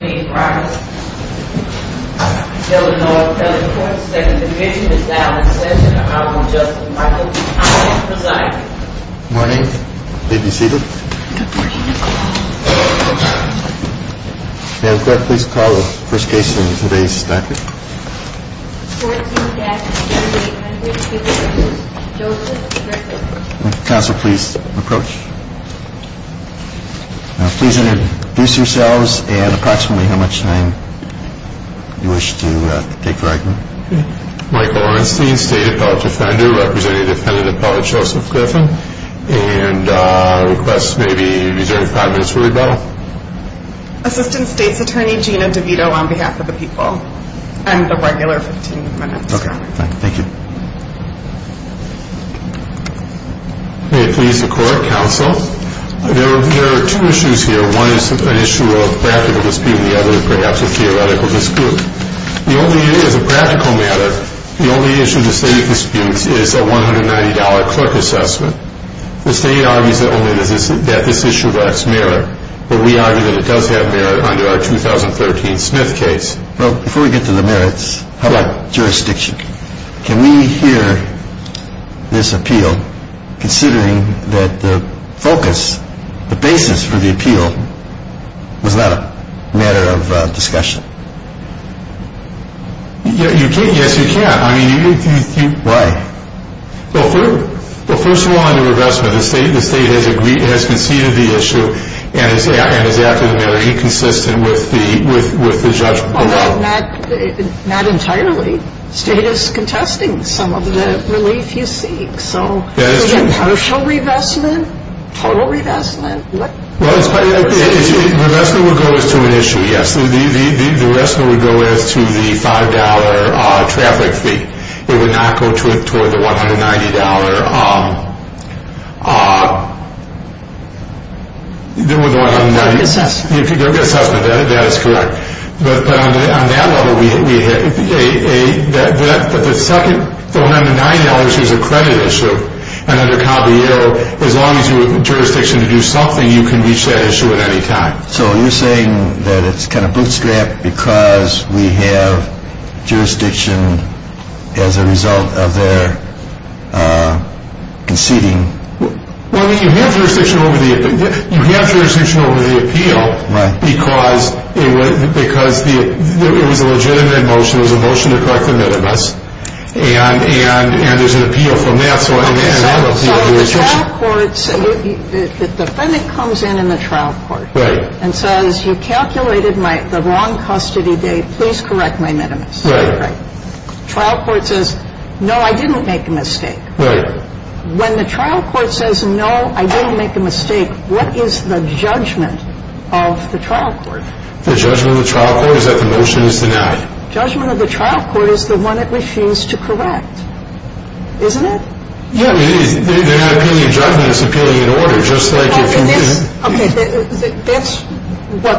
Morning, may I have your attention please, please call the first case in today's statute. Counsel please approach. Please introduce yourselves and approximately how much time you wish to take for argument. Michael Ornstein, State Appellate Defender, representing Defendant Appellate Joseph Griffin. And request maybe you reserve five minutes for rebuttal. Assistant State's Attorney Gina DeVito on behalf of the people. And a regular 15 minutes. Okay, thank you. May it please the court, counsel. There are two issues here. One is an issue of practical dispute and the other is perhaps a theoretical dispute. The only issue, as a practical matter, the only issue in the state of disputes is a $190 clerk assessment. The state argues that this issue lacks merit. But we argue that it does have merit under our 2013 Smith case. Before we get to the merits, how about jurisdiction? Can we hear this appeal considering that the focus, the basis for the appeal, was not a matter of discussion? Yes, you can. Why? Well, first of all, in regress, the state has conceded the issue and is acting very inconsistent with the judgment. Well, not entirely. The state is contesting some of the relief you seek. So is it partial revestment? Total revestment? Revestment would go as to an issue, yes. The revestment would go as to the $5 traffic fee. It would not go toward the $190. Clerk assessment. Clerk assessment, that is correct. But on that level, the second $190 is a credit issue. And under Caballero, as long as you have jurisdiction to do something, you can reach that issue at any time. So you're saying that it's kind of bootstrapped because we have jurisdiction as a result of their conceding? Well, you have jurisdiction over the appeal because it was a legitimate motion. It was a motion to correct the minimus. And there's an appeal from that. So the trial court, the defendant comes in in the trial court. Right. And says you calculated the wrong custody date. Please correct my minimus. Right. Trial court says, no, I didn't make a mistake. Right. When the trial court says, no, I didn't make a mistake, what is the judgment of the trial court? The judgment of the trial court is that the motion is denied. Judgment of the trial court is the one that refuses to correct. Isn't it? Yeah. Their opinion of judgment is appealing in order, just like if you didn't. Okay. That's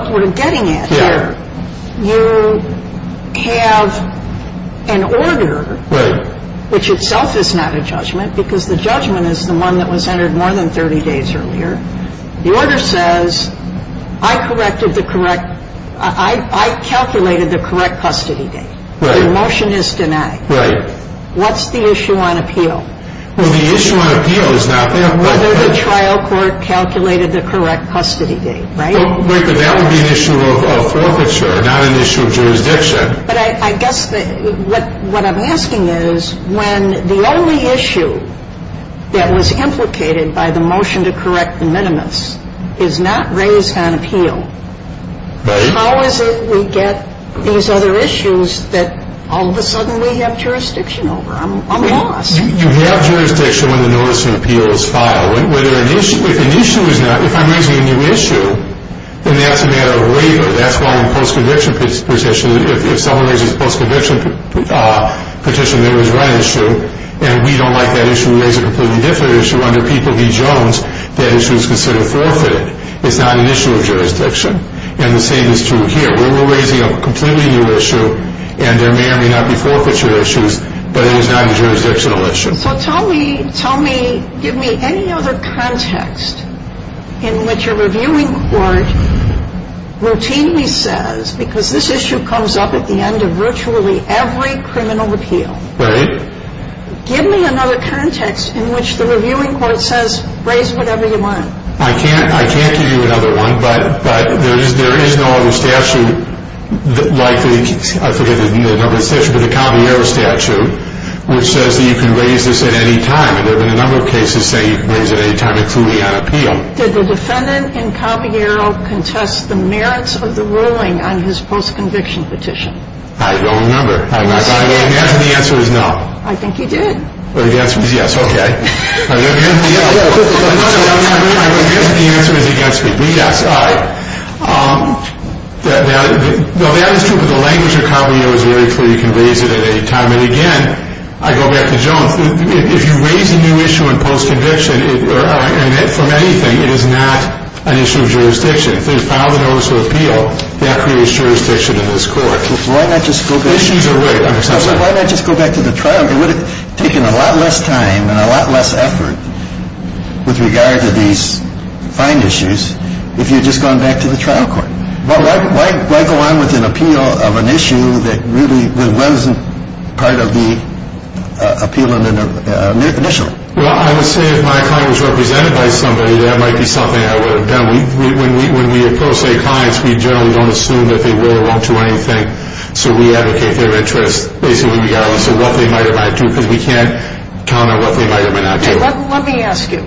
what we're getting at here. Yeah. You have an order. Right. You have an order, which itself is not a judgment because the judgment is the one that was entered more than 30 days earlier. The order says, I corrected the correct, I calculated the correct custody date. Right. The motion is denied. Right. What's the issue on appeal? Well, the issue on appeal is not that. Whether the trial court calculated the correct custody date. Right. Right. But that would be an issue of forfeiture, not an issue of jurisdiction. But I guess what I'm asking is when the only issue that was implicated by the motion to correct the minimus is not raised on appeal. Right. How is it we get these other issues that all of a sudden we have jurisdiction over? I'm lost. You have jurisdiction when the notice on appeal is filed. If an issue is not, if I'm raising a new issue, then that's a matter of waiver. That's called a post-conviction petition. If someone raises a post-conviction petition, there was one issue, and we don't like that issue, we raise a completely different issue. Under People v. Jones, that issue is considered forfeited. It's not an issue of jurisdiction. And the same is true here. We're raising a completely new issue, and there may or may not be forfeiture issues, but it is not a jurisdictional issue. So tell me, give me any other context in which a reviewing court routinely says, because this issue comes up at the end of virtually every criminal appeal. Right. Give me another context in which the reviewing court says, raise whatever you want. I can't give you another one, but there is no other statute like the, I forget the number of statutes, but the Caballero statute, which says that you can raise this at any time. And there have been a number of cases saying you can raise it at any time, including on appeal. Did the defendant in Caballero contest the merits of the ruling on his post-conviction petition? I don't remember. I'm not sure. The answer is no. I think he did. The answer is yes. Okay. The answer is against me. Yes, all right. Well, that is true, but the language of Caballero is very clear. You can raise it at any time. And, again, I go back to Jones. If you raise a new issue in post-conviction from anything, it is not an issue of jurisdiction. If there's a file of notice of appeal, that creates jurisdiction in this court. Why not just go back to the trial? It would have taken a lot less time and a lot less effort with regard to these fine issues if you had just gone back to the trial court. Well, why go on with an appeal of an issue that really wasn't part of the appeal initially? Well, I would say if my client was represented by somebody, that might be something I would have done. When we approach state clients, we generally don't assume that they will or won't do anything. So we advocate their interest, basically, regardless of what they might or might not do, because we can't count on what they might or might not do. Let me ask you.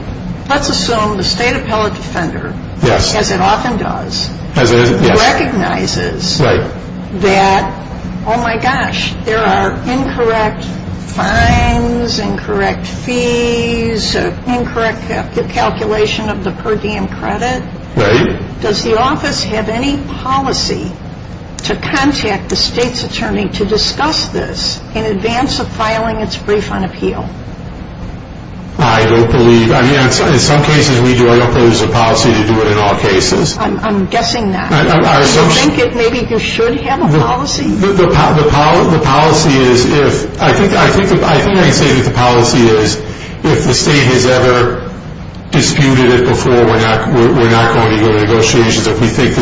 Let's assume the state appellate defender, as it often does, recognizes that, oh my gosh, there are incorrect fines, incorrect fees, incorrect calculation of the per diem credit. Right. Does the office have any policy to contact the state's attorney to discuss this in advance of filing its brief on appeal? I don't believe. I mean, in some cases we do. I don't think there's a policy to do it in all cases. I'm guessing not. Do you think maybe you should have a policy? The policy is if – I think I'd say that the policy is if the state has ever disputed it before, we're not going to go to negotiations. If we think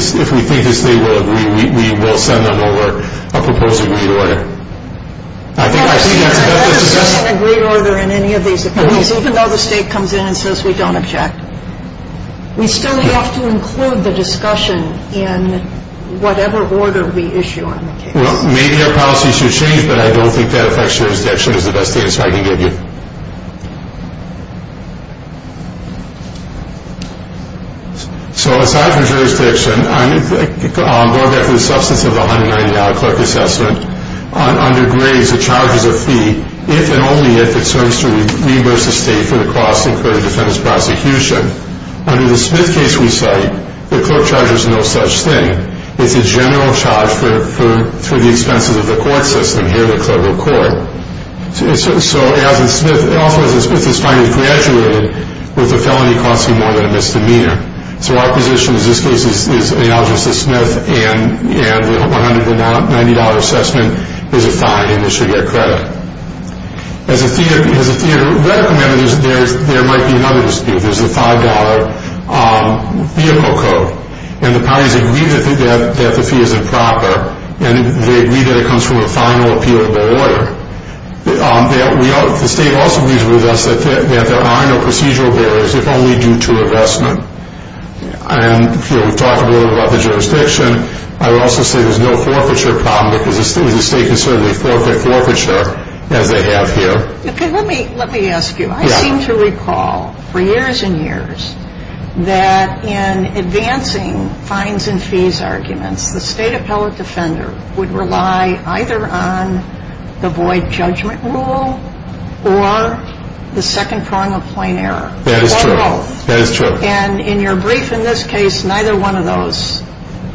the state will agree, we will send an alert, a proposed agreed order. I think that's better than just – I've never seen an agreed order in any of these appeals, even though the state comes in and says we don't object. We still have to include the discussion in whatever order we issue on the case. Well, maybe our policy should change, but I don't think that affects jurisdiction is the best answer I can give you. So aside from jurisdiction, going back to the substance of the $190 clerk assessment, under grades the charge is a fee if and only if it serves to reimburse the state for the cost incurred in defendant's prosecution. Under the Smith case we cite, the clerk charge is no such thing. It's a general charge for the expenses of the court system here at the federal court. So as a Smith – also as a Smith has finally graduated with a felony costing more than a misdemeanor. So our position in this case is the allegiance to Smith and the $190 assessment is a fine and they should get credit. As a fee, there might be another dispute. There's the $5 vehicle code and the parties agree that the fee isn't proper and they agree that it comes from a final appealable order. The state also agrees with us that there are no procedural barriers if only due to investment. And we've talked a little bit about the jurisdiction. I would also say there's no forfeiture problem because the state can certainly forfeit forfeiture as they have here. Okay, let me ask you. I seem to recall for years and years that in advancing fines and fees arguments, the state appellate defender would rely either on the void judgment rule or the second prong of plain error. That is true. Or both. That is true. And in your brief in this case, neither one of those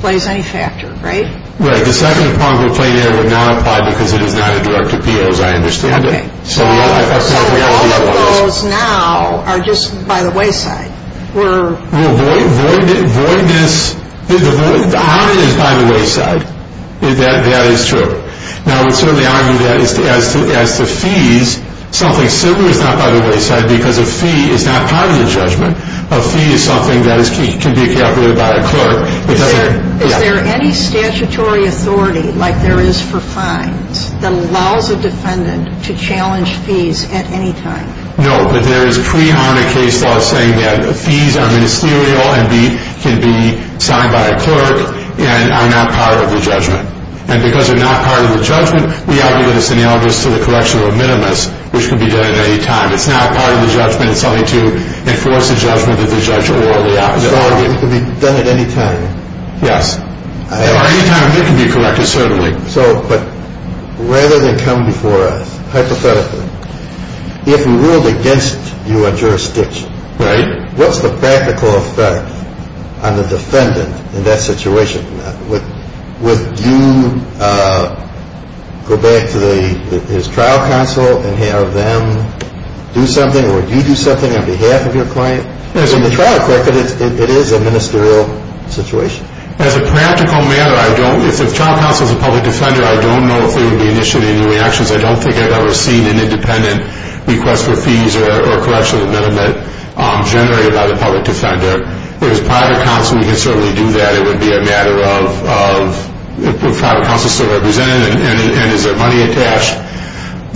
plays any factor, right? Right. The second prong of plain error would not apply because it is not a direct appeal as I understand it. Okay. So all of those now are just by the wayside. Voidness is by the wayside. That is true. Now I would certainly argue that as to fees, something similar is not by the wayside because a fee is not part of the judgment. A fee is something that can be calculated by a clerk. Is there any statutory authority, like there is for fines, that allows a defendant to challenge fees at any time? No, but there is prehonored case law saying that fees are ministerial and can be signed by a clerk and are not part of the judgment. And because they are not part of the judgment, we argue that it is analogous to the correction of a minimus, which can be done at any time. It is not part of the judgment. It is something to enforce the judgment of the judge or the opposite. So it can be done at any time? Yes. Or any time it can be corrected, certainly. So, but rather than come before us, hypothetically, if we ruled against you on jurisdiction, what is the practical effect on the defendant in that situation? Would you go back to his trial counsel and have them do something? Or would you do something on behalf of your client? As a trial clerk, it is a ministerial situation. As a practical matter, I don't. If the trial counsel is a public defender, I don't know if there would be initially any reactions. I don't think I have ever seen an independent request for fees or correction of a minimum generated by the public defender. If it was private counsel, we could certainly do that. It would be a matter of if private counsel is still represented and is there money attached.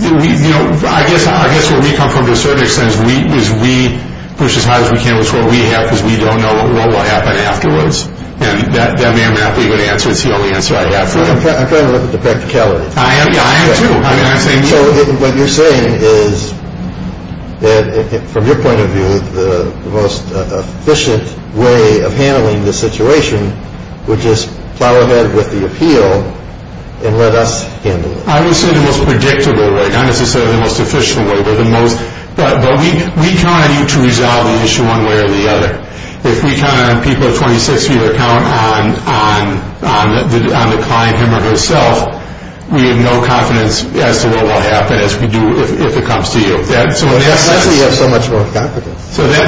I guess where we come from, to a certain extent, is we push as hard as we can with what we have because we don't know what will happen afterwards. And that may or may not be a good answer. It is the only answer I have for it. I am trying to look at the practicality. I am, too. So what you're saying is that from your point of view, the most efficient way of handling the situation would just plow ahead with the appeal and let us handle it. I would say the most predictable way, not necessarily the most efficient way. But we kind of need to resolve the issue one way or the other. If we count on people of 26 years to count on the client him or herself, we have no confidence as to what will happen if it comes to you. That's why you have so much more confidence. So we may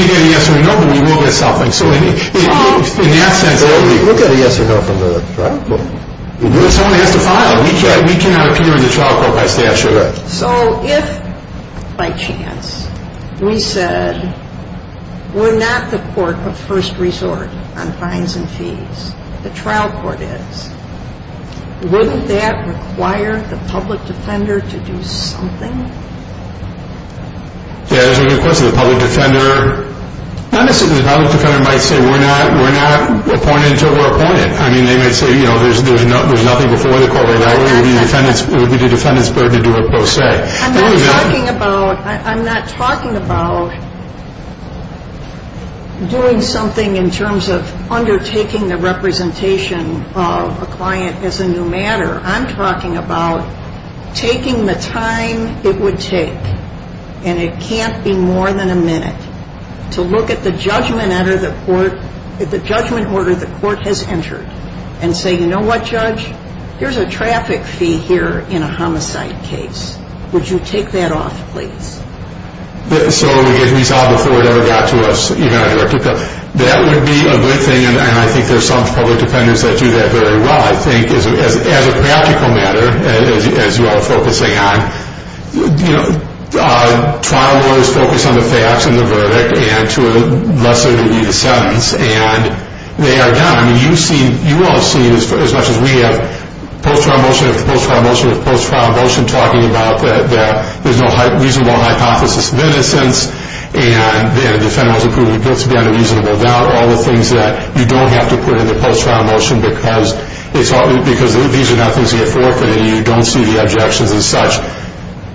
get a yes or a no, but we will get something. We'll get a yes or no from the trial court. Someone has to file. We cannot appear in the trial court by statute. So if, by chance, we said we're not the court of first resort on fines and fees, the trial court is, wouldn't that require the public defender to do something? Yeah, there's a good question. The public defender might say we're not appointed until we're appointed. I mean, they might say, you know, there's nothing before the court. It would be the defendant's burden to do what both say. I'm not talking about doing something in terms of undertaking the representation of a client as a new matter. I'm talking about taking the time it would take, and it can't be more than a minute, to look at the judgment order the court has entered and say, you know what, judge? Here's a traffic fee here in a homicide case. Would you take that off, please? So it would get resolved before it ever got to us. That would be a good thing, and I think there's some public defendants that do that very well, I think, as a practical matter, as you all are focusing on. You know, trial lawyers focus on the facts and the verdict, and to a lesser degree, the sentence, and they are done. I mean, you've seen, you all have seen, as much as we have, post-trial motion after post-trial motion after post-trial motion, talking about that there's no reasonable hypothesis of innocence, and the defendant was proven guilty on a reasonable doubt, all the things that you don't have to put in the post-trial motion because these are not things that get forfeited, and you don't see the objections as such.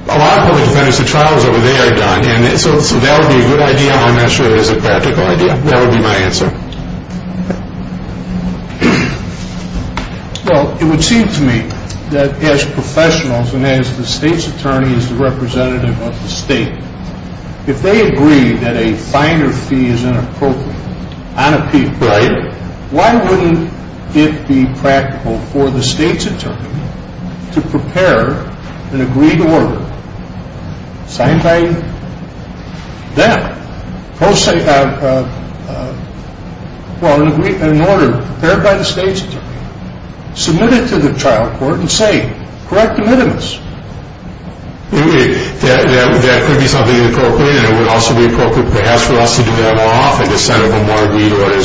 A lot of public defendants, the trials over there are done, and so that would be a good idea. I'm not sure it is a practical idea. That would be my answer. Well, it would seem to me that as professionals and as the state's attorney, as the representative of the state, if they agree that a finder fee is inappropriate on a people, why wouldn't it be practical for the state's attorney to prepare an agreed order signed by them? Well, in order, prepared by the state's attorney, submit it to the trial court and say, correct the minimus. That could be something appropriate, and it would also be appropriate perhaps for us to do that more often to set up a more agreed order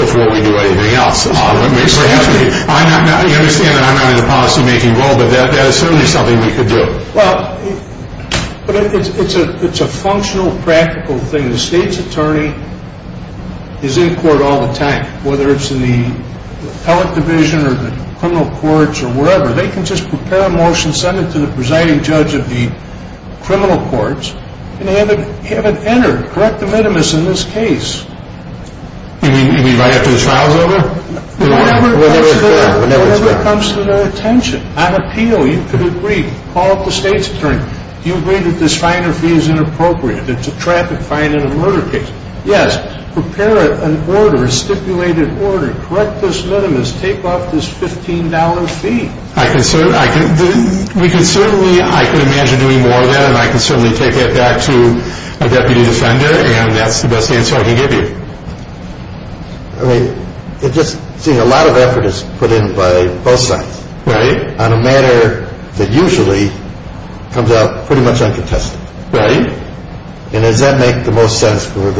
before we do anything else. I understand that I'm not in a policymaking role, but that is certainly something we could do. Well, but it's a functional, practical thing. The state's attorney is in court all the time, whether it's in the appellate division or the criminal courts or wherever. They can just prepare a motion, send it to the presiding judge of the criminal courts, and have it entered, correct the minimus in this case. You mean right after the trial is over? Whenever it's done. On appeal, you could agree. Call up the state's attorney. Do you agree that this finder fee is inappropriate? It's a traffic fine in a murder case. Yes. Prepare an order, a stipulated order. Correct this minimus. Take off this $15 fee. I can certainly imagine doing more of that, and I can certainly take that back to a deputy defender, and that's the best answer I can give you. I mean, just seeing a lot of effort is put in by both sides. Right. On a matter that usually comes out pretty much uncontested. Right. And does that make the most sense for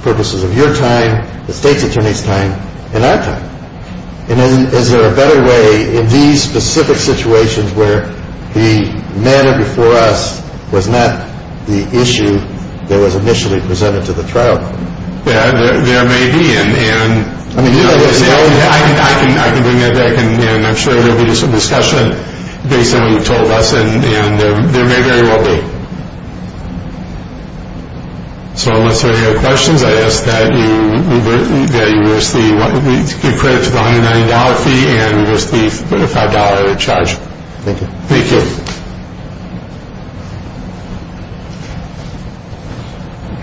purposes of your time, the state's attorney's time, and our time? And is there a better way in these specific situations where the matter before us was not the issue that was initially presented to the trial? Yeah, there may be, and I can bring that back, and I'm sure there will be some discussion based on what you've told us, and there may very well be. So unless there are any other questions, I ask that you give credit to the $190 fee and reverse the $5 charge. Thank you. Thank you. Thank you.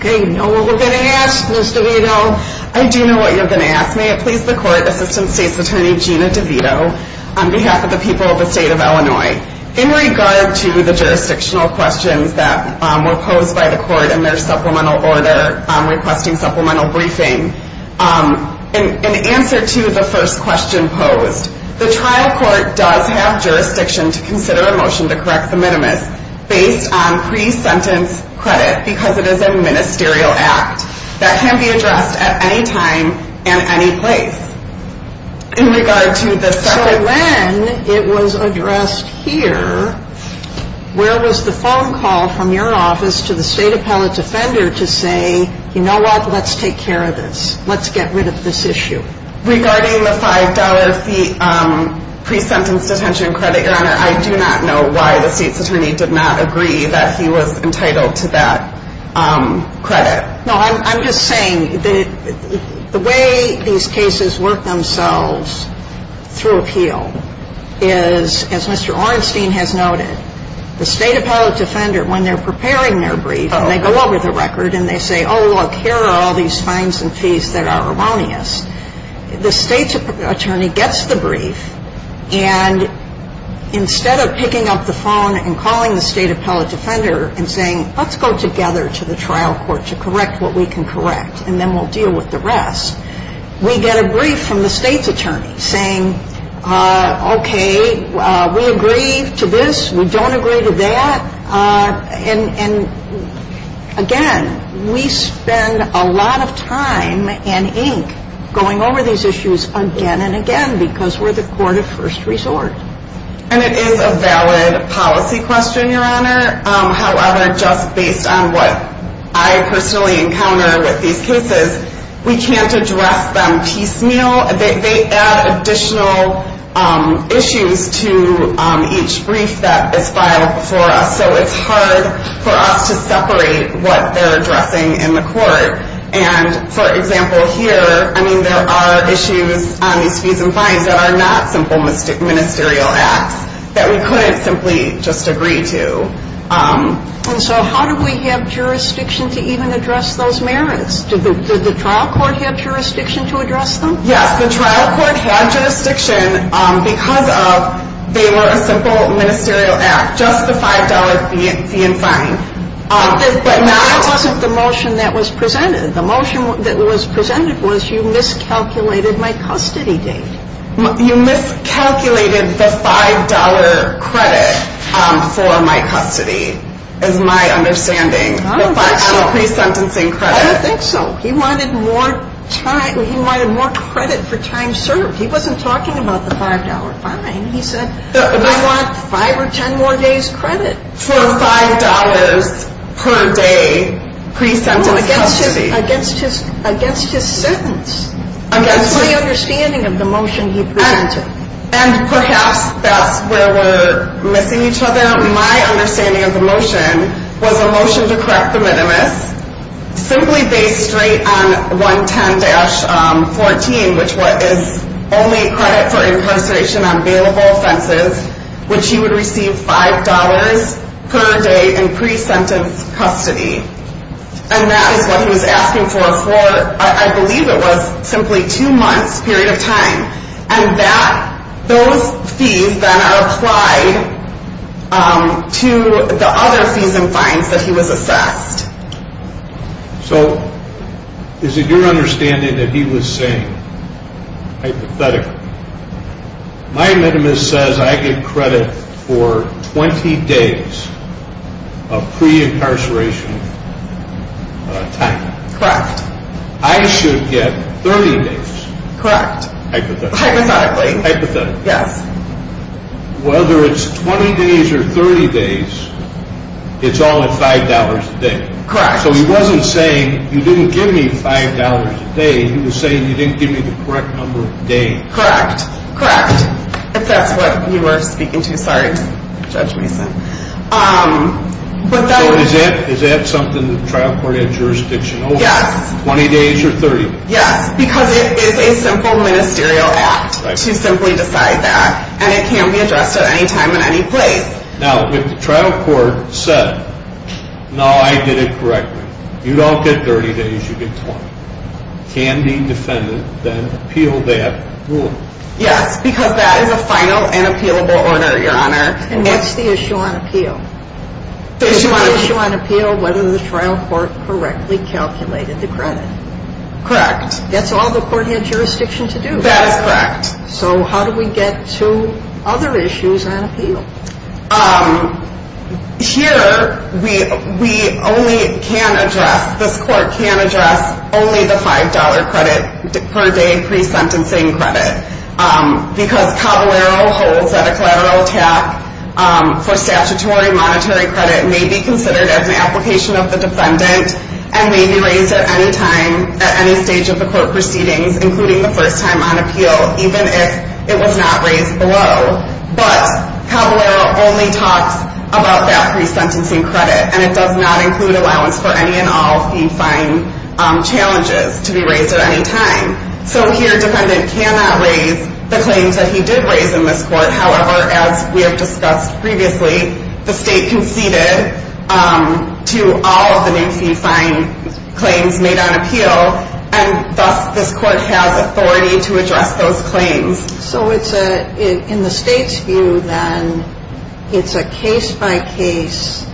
Okay, you know what we're going to ask, Ms. DeVito? I do know what you're going to ask. May it please the court, Assistant State's Attorney Gina DeVito, on behalf of the people of the state of Illinois. In regard to the jurisdictional questions that were posed by the court in their supplemental order, requesting supplemental briefing, in answer to the first question posed, the trial court does have jurisdiction to consider a motion to correct the minimus based on pre-sentence credit because it is a ministerial act that can be addressed at any time and any place. So when it was addressed here, where was the phone call from your office to the state appellate's offender to say, you know what, let's take care of this, let's get rid of this issue? Regarding the $5 fee pre-sentence detention credit, Your Honor, I do not know why the state's attorney did not agree that he was entitled to that credit. No, I'm just saying that the way these cases work themselves through appeal is, as Mr. Orenstein has noted, the state appellate's offender, when they're preparing their brief and they go over the record and they say, oh, look, here are all these fines and fees that are erroneous, the state's attorney gets the brief, and instead of picking up the phone and calling the state appellate's offender and saying, let's go together to the trial court to correct what we can correct, and then we'll deal with the rest, we get a brief from the state's attorney saying, okay, we agree to this, we don't agree to that. And again, we spend a lot of time and ink going over these issues again and again because we're the court of first resort. And it is a valid policy question, Your Honor. However, just based on what I personally encounter with these cases, we can't address them piecemeal. They add additional issues to each brief that is filed before us. So it's hard for us to separate what they're addressing in the court. And, for example, here, I mean, there are issues on these fees and fines that are not simple ministerial acts that we couldn't simply just agree to. And so how do we have jurisdiction to even address those merits? Does the trial court have jurisdiction to address them? Yes, the trial court had jurisdiction because they were a simple ministerial act, just the $5 fee and fine. But that wasn't the motion that was presented. The motion that was presented was you miscalculated my custody date. You miscalculated the $5 credit for my custody, is my understanding. I don't think so. On a pre-sentencing credit. I don't think so. He wanted more time. He wanted more credit for time served. He wasn't talking about the $5 fine. He said, I want 5 or 10 more days credit. For $5 per day pre-sentence custody. No, against his sentence. That's my understanding of the motion he presented. And perhaps that's where we're missing each other. My understanding of the motion was a motion to correct the minimus, simply based straight on 110-14, which is only credit for incarceration on bailable offenses, which he would receive $5 per day in pre-sentence custody. And that is what he was asking for for, I believe it was simply two months period of time. And that, those fees then are applied to the other fees and fines that he was assessed. So, is it your understanding that he was saying, hypothetically, my minimus says I get credit for 20 days of pre-incarceration time. Correct. I should get 30 days. Correct. Hypothetically. Hypothetically. Hypothetically. Yes. Whether it's 20 days or 30 days, it's only $5 a day. Correct. So, he wasn't saying, you didn't give me $5 a day. He was saying, you didn't give me the correct number of days. Correct. Correct. If that's what you were speaking to. Sorry, Judge Mason. So, is that something the trial court had jurisdiction over? Yes. 20 days or 30 days? Yes, because it is a simple ministerial act to simply decide that. And it can be addressed at any time and any place. Now, if the trial court said, no, I did it correctly. You don't get 30 days, you get 20. Can the defendant then appeal that ruling? Yes, because that is a final and appealable order, Your Honor. And what's the issue on appeal? The issue on appeal, whether the trial court correctly calculated the credit. Correct. That's all the court had jurisdiction to do. That is correct. So, how do we get to other issues on appeal? Here, we only can address, this court can address only the $5 credit per day pre-sentencing credit. Because Caballero holds that a collateral attack for statutory monetary credit may be considered as an application of the defendant and may be raised at any time at any stage of the court proceedings, including the first time on appeal, even if it was not raised below. But, Caballero only talks about that pre-sentencing credit. And it does not include allowance for any and all fee-fine challenges to be raised at any time. So, here a defendant cannot raise the claims that he did raise in this court. However, as we have discussed previously, the state conceded to all of the new fee-fine claims made on appeal. And thus, this court has authority to address those claims. So, in the state's view then, it's a case-by-case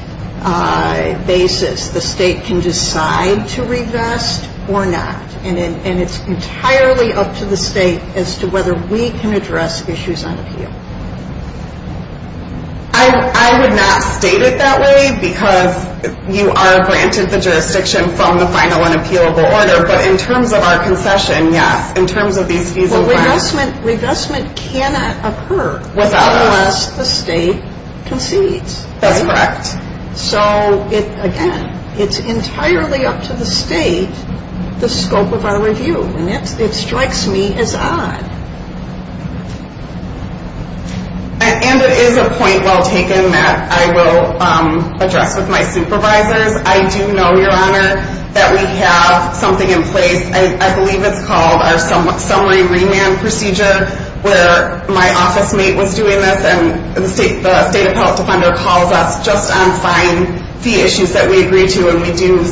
basis. The state can decide to regress or not. And it's entirely up to the state as to whether we can address issues on appeal. I would not state it that way because you are granted the jurisdiction from the final and appealable order. But, in terms of our concession, yes. In terms of these fees and grants. Well, regressment cannot occur unless the state concedes. That's correct. So, again, it's entirely up to the state the scope of our review. And it strikes me as odd. And it is a point well taken that I will address with my supervisors. I do know, Your Honor, that we have something in place. I believe it's called our summary remand procedure where my office mate was doing this and the State Appellate Defender calls us just on fine fee issues that we agree to and we do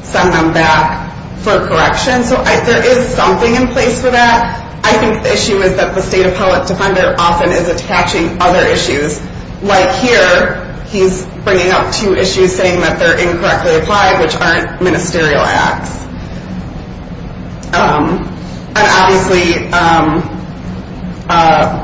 send them back for correction. So, there is something in place for that. I think the issue is that the State Appellate Defender often is attaching other issues. Like here, he's bringing up two issues saying that they're incorrectly applied, which aren't ministerial acts. And obviously,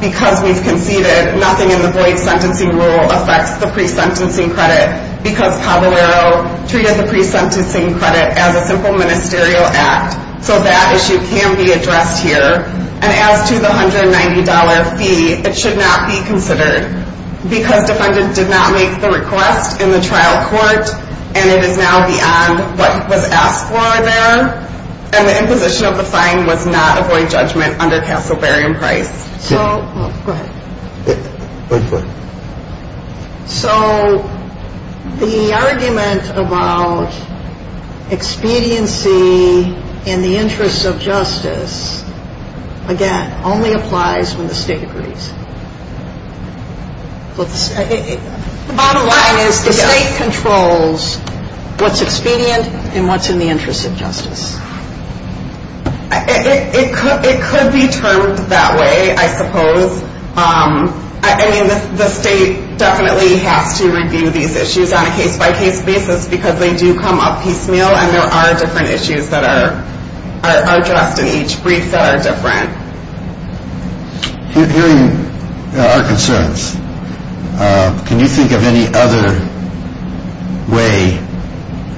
because we've conceded, nothing in the void sentencing rule affects the pre-sentencing credit because Caballero treated the pre-sentencing credit as a simple ministerial act. So, that issue can be addressed here. And as to the $190 fee, it should not be considered. Because defendant did not make the request in the trial court and it is now beyond what was asked for there. And the imposition of the fine was not a void judgment under Castleberry and Price. So, the argument about expediency in the interest of justice, again, only applies when the State agrees. The bottom line is the State controls what's expedient and what's in the interest of justice. It could be termed that way, I suppose. I mean, the State definitely has to review these issues on a case-by-case basis because they do come up piecemeal and there are different issues that are addressed in each brief that are different. Hearing our concerns, can you think of any other way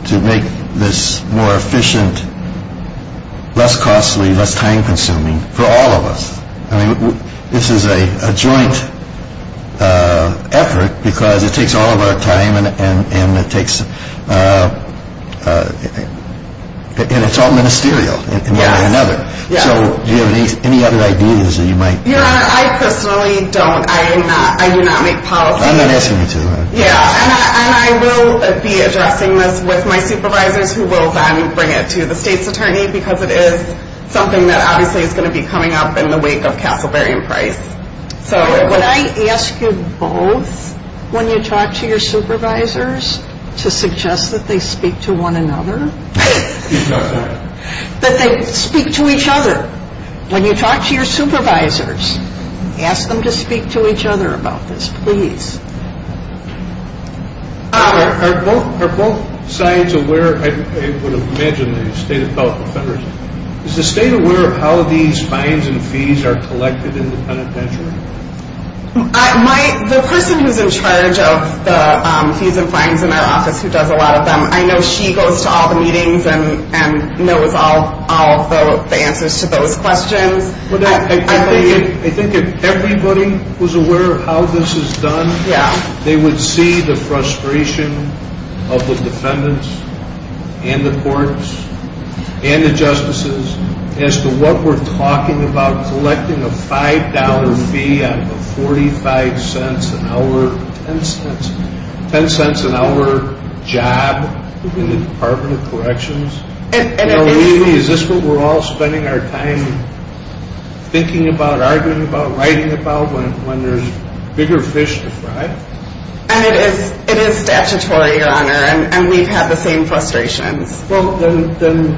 to make this more efficient, less costly, less time-consuming for all of us? I mean, this is a joint effort because it takes all of our time and it's all ministerial in one way or another. So, do you have any other ideas that you might... Your Honor, I personally don't. I do not make policy. I'm not asking you to, Your Honor. Yeah, and I will be addressing this with my supervisors who will then bring it to the State's attorney because it is something that obviously is going to be coming up in the wake of Castleberry and Price. So, would I ask you both, when you talk to your supervisors, to suggest that they speak to one another? Right. That they speak to each other. When you talk to your supervisors, ask them to speak to each other about this, please. Your Honor, are both sides aware, I would imagine the State of California Federalism, is the State aware of how these fines and fees are collected in the penitentiary? The person who's in charge of the fees and fines in our office, who does a lot of them, I know she goes to all the meetings and knows all the answers to those questions. I think if everybody was aware of how this is done, they would see the frustration of the defendants and the courts and the justices as to what we're talking about collecting a $5 fee out of a $0.45 an hour, $0.10 an hour job in the Department of Corrections. Is this what we're all spending our time thinking about, arguing about, writing about when there's bigger fish to fry? And it is statutory, Your Honor, and we've had the same frustrations. Well, then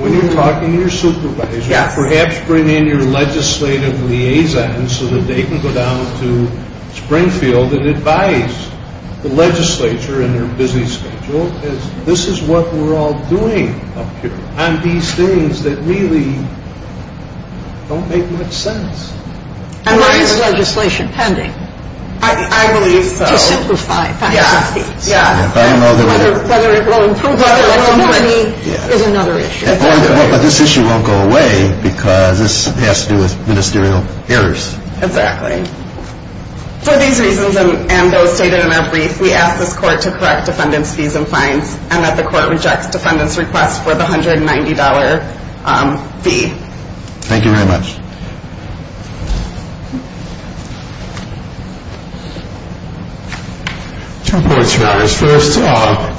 when you're talking to your supervisors, perhaps bring in your legislative liaisons so that they can go down to Springfield and advise the legislature and their busy schedule, as this is what we're all doing up here on these things that really don't make much sense. And why is legislation pending? I believe so. To simplify fines and fees. Yes. Whether it will improve our ability is another issue. But this issue won't go away because this has to do with ministerial errors. Exactly. For these reasons and those stated in our brief, we ask this court to correct defendants' fees and fines and that the court rejects defendants' request for the $190 fee. Thank you very much. Thank you. Two points, Your Honor. First,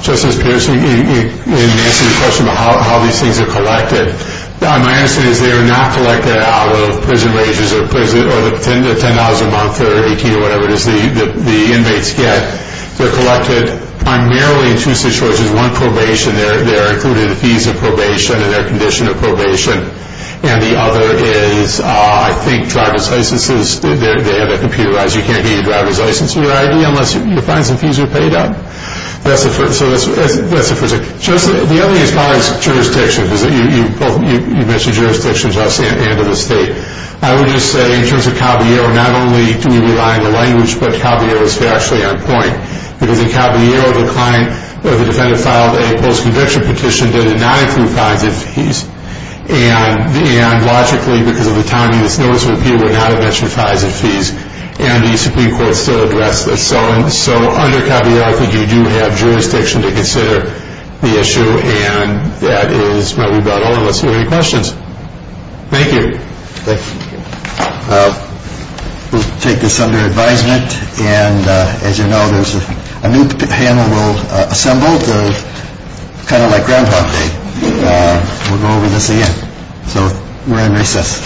Justice Peterson, in answering the question about how these things are collected, my answer is they are not collected out of prison wages or $10 a month or $18 or whatever it is the inmates get. They're collected primarily in two situations. One, probation. There are included fees of probation and their condition of probation. And the other is, I think, driver's licenses. They have that computerized. You can't get your driver's license or your ID unless your fines and fees are paid up. So that's the first thing. The other thing as far as jurisdiction, because you mentioned jurisdiction at the end of the state, I would just say in terms of Caballero, not only do we rely on the language, but Caballero is actually on point. Because in Caballero, the client or the defendant filed a post-conviction petition that did not include fines and fees. And logically, because of the timing, this notice of appeal would not have mentioned fines and fees. And the Supreme Court still addressed this. So under Caballero, I think you do have jurisdiction to consider the issue. And that is my rebuttal. Unless there are any questions. Thank you. Thank you. We'll take this under advisement. And as you know, there's a new panel we'll assemble. Kind of like grandpa. We'll go over this again. So we're in recess.